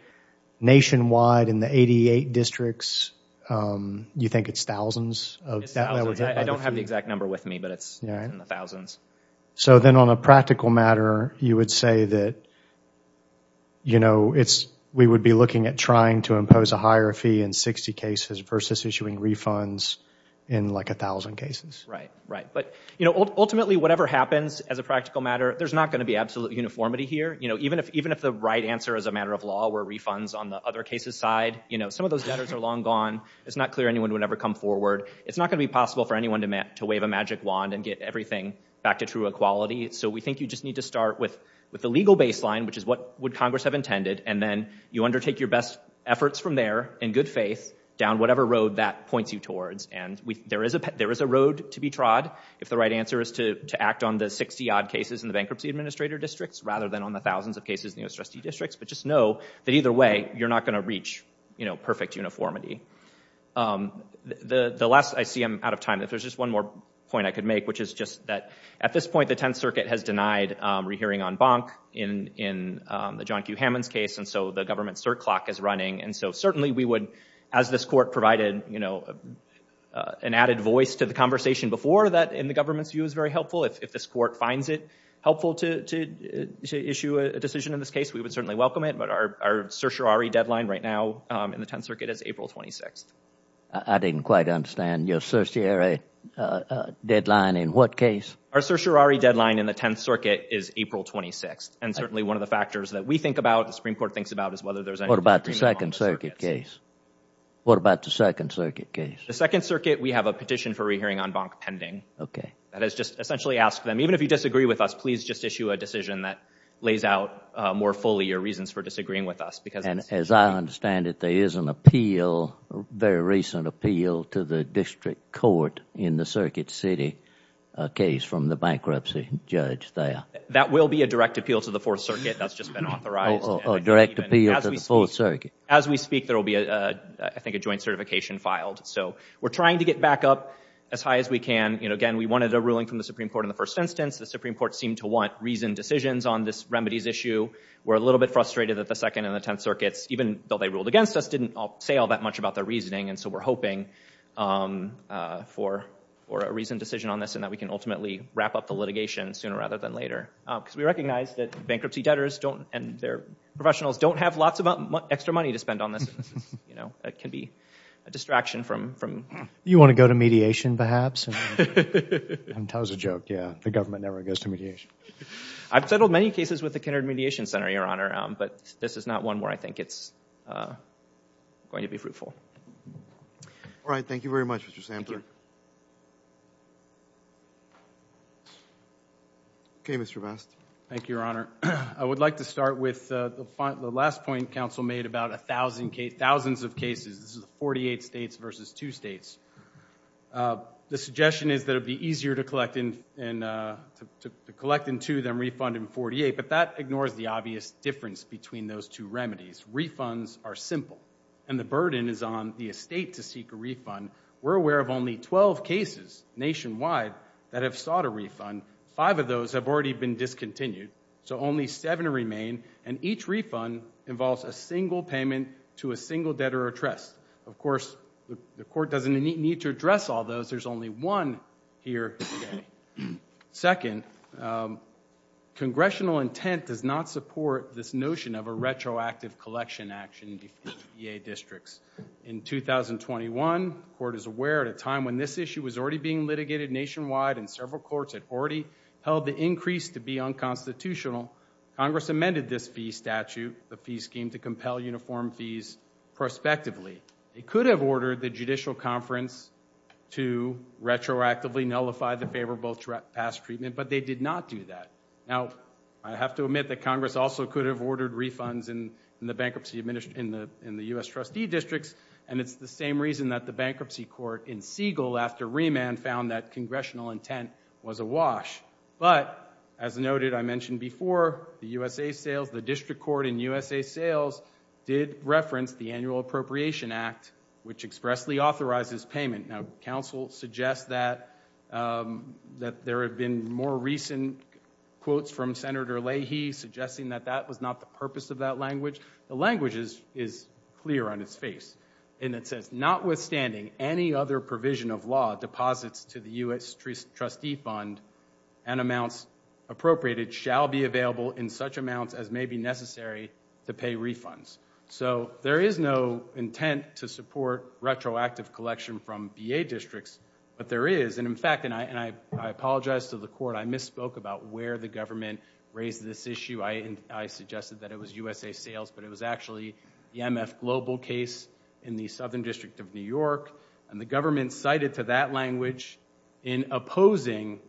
nationwide in the 88 districts, you think it's thousands? It's thousands. I don't have the exact number with me, but it's in the thousands. So then on a practical matter, you would say that, you know, we would be looking at trying to impose a higher fee in 60 cases versus issuing refunds in like a thousand cases. Right, right. But, you know, ultimately, whatever happens as a practical matter, there's not going to be absolute uniformity here. You know, even if the right answer as a matter of law were refunds on the other case's side, you know, some of those debtors are long gone. It's not clear anyone would ever come forward. It's not going to be possible for anyone to wave a magic wand and get everything back to true equality. So we think you just need to start with the legal baseline, which is what would Congress have intended, and then you undertake your best efforts from there in good faith down whatever road that points you towards. And there is a road to be trod if the right answer is to act on the 60-odd cases in the bankruptcy administrator districts rather than on the thousands of cases in the U.S. trustee districts. But just know that either way, you're not going to reach, you know, perfect uniformity. The last, I see I'm out of time. If there's just one more point I could make, which is just that at this point, the Tenth Circuit has denied rehearing en banc in the John Q. Hammond's case, and so the government's cert clock is running. And so certainly we would, as this court provided, you know, an added voice to the conversation before that, in the government's view, is very helpful. If this court finds it helpful to issue a decision in this case, we would certainly welcome it. But our certiorari deadline right now in the Tenth Circuit is April 26th. I didn't quite understand. Your certiorari deadline in what case? Our certiorari deadline in the Tenth Circuit is April 26th. And certainly one of the factors that we think about, the Supreme Court thinks about, is whether there's any agreement on the circuit. What about the Second Circuit case? What about the Second Circuit case? The Second Circuit, we have a petition for rehearing en banc pending. Okay. That is just essentially ask them, even if you disagree with us, please just issue a decision that lays out more fully your reasons for disagreeing with us. And as I understand it, there is an appeal, a very recent appeal to the district court in the Circuit City case from the bankruptcy judge there. That will be a direct appeal to the Fourth Circuit. That's just been authorized. Oh, a direct appeal to the Fourth Circuit. As we speak, there will be, I think, a joint certification filed. So we're trying to get back up as high as we can. Again, we wanted a ruling from the Supreme Court in the first instance. The Supreme Court seemed to want reasoned decisions on this remedies issue. We're a little bit frustrated that the Second and the Tenth Circuits, even though they ruled against us, didn't say all that much about their reasoning. And so we're hoping for a reasoned decision on this and that we can ultimately wrap up the litigation sooner rather than later. Because we recognize that bankruptcy debtors and their professionals don't have lots of extra money to spend on this. That can be a distraction from— You want to go to mediation, perhaps? And tell us a joke. Yeah, the government never goes to mediation. I've settled many cases with the Kindred Mediation Center, Your Honor, but this is not one where I think it's going to be fruitful. All right, thank you very much, Mr. Samper. Okay, Mr. Best. Thank you, Your Honor. I would like to start with the last point Council made about thousands of cases. This is 48 states versus two states. The suggestion is that it would be easier to collect in two than refund in 48, but that ignores the obvious difference between those two remedies. Refunds are simple, and the burden is on the estate to seek a refund. We're aware of only 12 cases nationwide that have sought a refund. Five of those have already been discontinued. So only seven remain, and each refund involves a single payment to a single debtor or trust. Of course, the court doesn't need to address all those. There's only one here today. Second, congressional intent does not support this notion of a retroactive collection action in VA districts. In 2021, the court is aware at a time when this issue was already being litigated nationwide and several courts had already held the increase to be unconstitutional. Congress amended this fee statute, the fee scheme, to compel uniform fees prospectively. It could have ordered the judicial conference to retroactively nullify the favorable past treatment, but they did not do that. Now, I have to admit that Congress also could have ordered refunds in the U.S. trustee districts, and it's the same reason that the bankruptcy court in Siegel after remand found that congressional intent was awash. But, as noted, I mentioned before, the district court in USA Sales did reference the Annual Appropriation Act, which expressly authorizes payment. Now, counsel suggests that there have been more recent quotes from Senator Leahy suggesting that that was not the purpose of that language. The language is clear on its face. It says, notwithstanding any other provision of law, deposits to the U.S. trustee fund and amounts appropriated shall be available in such amounts as may be necessary to pay refunds. There is no intent to support retroactive collection from VA districts, but there is. In fact, and I apologize to the court, I misspoke about where the government raised this issue. I suggested that it was USA Sales, but it was actually the MF Global case in the Southern District of New York, and the government cited to that language in opposing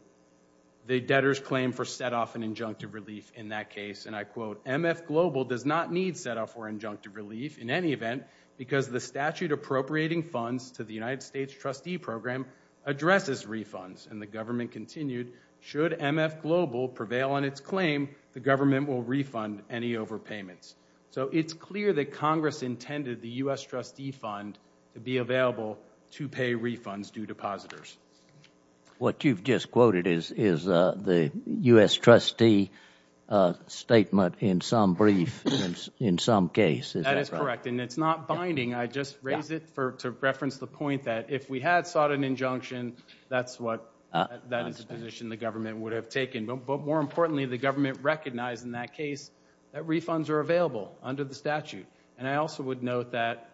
the debtor's claim for set-off and injunctive relief in that case, and I quote, MF Global does not need set-off or injunctive relief in any event because the statute appropriating funds to the United States trustee program addresses refunds. And the government continued, should MF Global prevail on its claim, the government will refund any overpayments. So it's clear that Congress intended the U.S. trustee fund to be available to pay refunds due to depositors. What you've just quoted is the U.S. trustee statement in some brief, in some case. That is correct, and it's not binding. I just raised it to reference the point that if we had sought an injunction, that is a position the government would have taken, but more importantly, the government recognized in that case that refunds are available under the statute, and I also would note that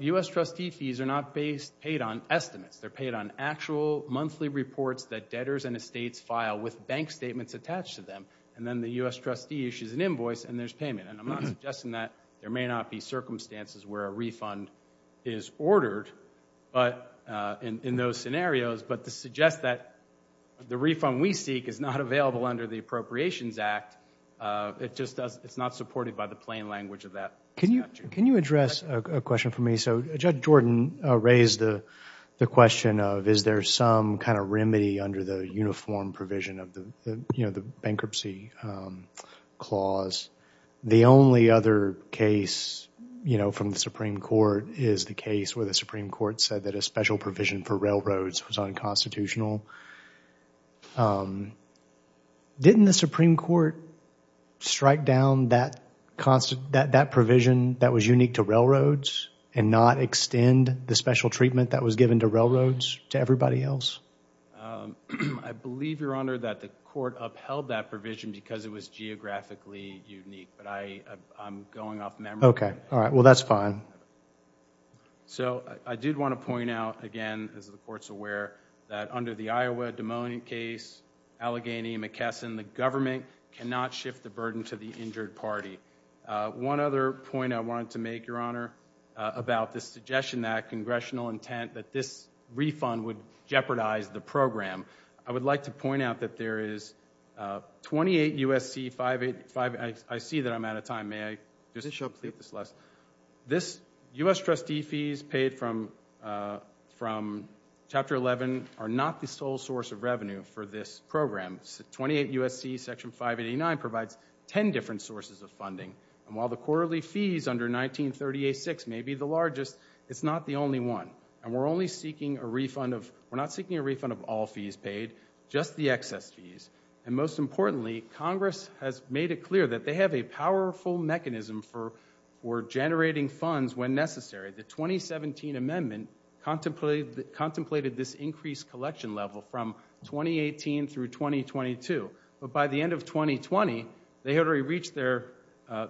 U.S. trustee fees are not paid on estimates. They're paid on actual monthly reports that debtors and estates file with bank statements attached to them, and then the U.S. trustee issues an invoice, and there's payment, and I'm not suggesting that there may not be circumstances where a refund is ordered in those scenarios, but to suggest that the refund we seek is not available under the Appropriations Act, it's not supported by the plain language of that statute. Can you address a question for me? Judge Jordan raised the question of is there some kind of remedy under the uniform provision of the bankruptcy clause? The only other case from the Supreme Court is the case where the Supreme Court said that a special provision for railroads was unconstitutional. Didn't the Supreme Court strike down that provision that was unique to railroads and not extend the special treatment that was given to railroads to everybody else? I believe, Your Honor, that the court upheld that provision because it was geographically unique, but I'm going off memory. Okay. All right. Well, that's fine. So I did want to point out, again, as the court's aware, that under the Iowa-Des Moines case, Allegheny, and McKesson, the government cannot shift the burden to the injured party. One other point I wanted to make, Your Honor, about the suggestion that congressional intent that this refund would jeopardize the program, I would like to point out that there is 28 U.S.C. 585—I see that I'm out of time. May I just complete this last— This U.S. trustee fees paid from Chapter 11 are not the sole source of revenue for this program. 28 U.S.C. Section 589 provides 10 different sources of funding. And while the quarterly fees under 1938-6 may be the largest, it's not the only one. And we're not seeking a refund of all fees paid, just the excess fees. And most importantly, Congress has made it clear that they have a powerful mechanism for generating funds when necessary. The 2017 amendment contemplated this increased collection level from 2018 through 2022. But by the end of 2020, they had already reached the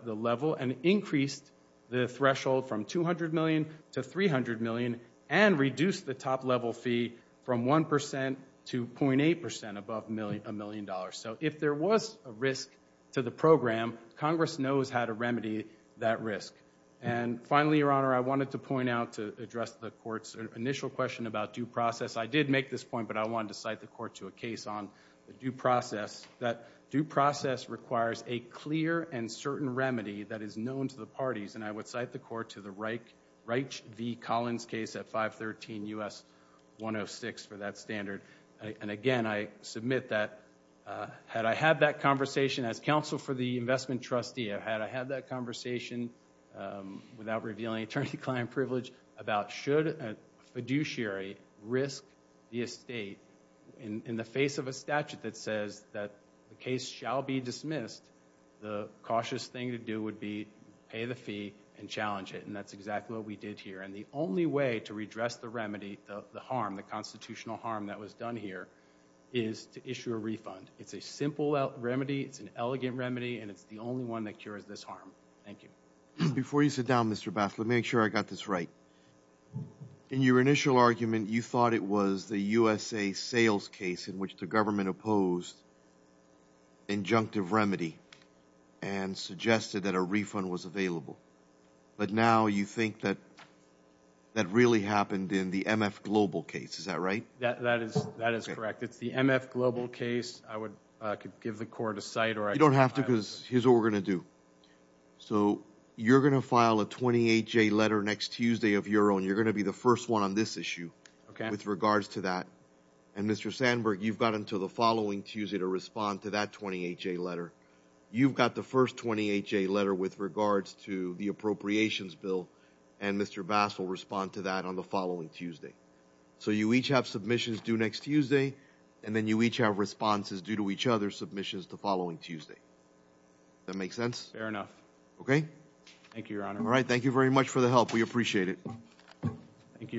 level and increased the threshold from $200 million to $300 million and reduced the top-level fee from 1% to 0.8% above $1 million. So if there was a risk to the program, Congress knows how to remedy that risk. And finally, Your Honor, I wanted to point out to address the Court's initial question about due process. I did make this point, but I wanted to cite the Court to a case on due process, that due process requires a clear and certain remedy that is known to the parties. And I would cite the Court to the Reich v. Collins case at 513 U.S. 106 for that standard. And again, I submit that had I had that conversation as counsel for the investment trustee, had I had that conversation without revealing attorney-client privilege about should a fiduciary risk the estate in the face of a statute that says that the case shall be dismissed, the cautious thing to do would be pay the fee and challenge it. And that's exactly what we did here. And the only way to redress the remedy, the harm, the constitutional harm that was done here, is to issue a refund. It's a simple remedy, it's an elegant remedy, and it's the only one that cures this harm. Thank you. Before you sit down, Mr. Bass, let me make sure I got this right. In your initial argument, you thought it was the USA Sales case in which the government opposed injunctive remedy and suggested that a refund was available. But now you think that that really happened in the MF Global case. Is that right? That is correct. It's the MF Global case. I could give the Court a cite. You don't have to because here's what we're going to do. So you're going to file a 28-J letter next Tuesday of your own. You're going to be the first one on this issue with regards to that. And, Mr. Sandberg, you've got until the following Tuesday to respond to that 28-J letter. You've got the first 28-J letter with regards to the appropriations bill, and Mr. Bass will respond to that on the following Tuesday. So you each have submissions due next Tuesday, and then you each have responses due to each other's submissions the following Tuesday. Does that make sense? Fair enough. Okay. Thank you, Your Honor. All right. Thank you very much for the help. We appreciate it. Thank you.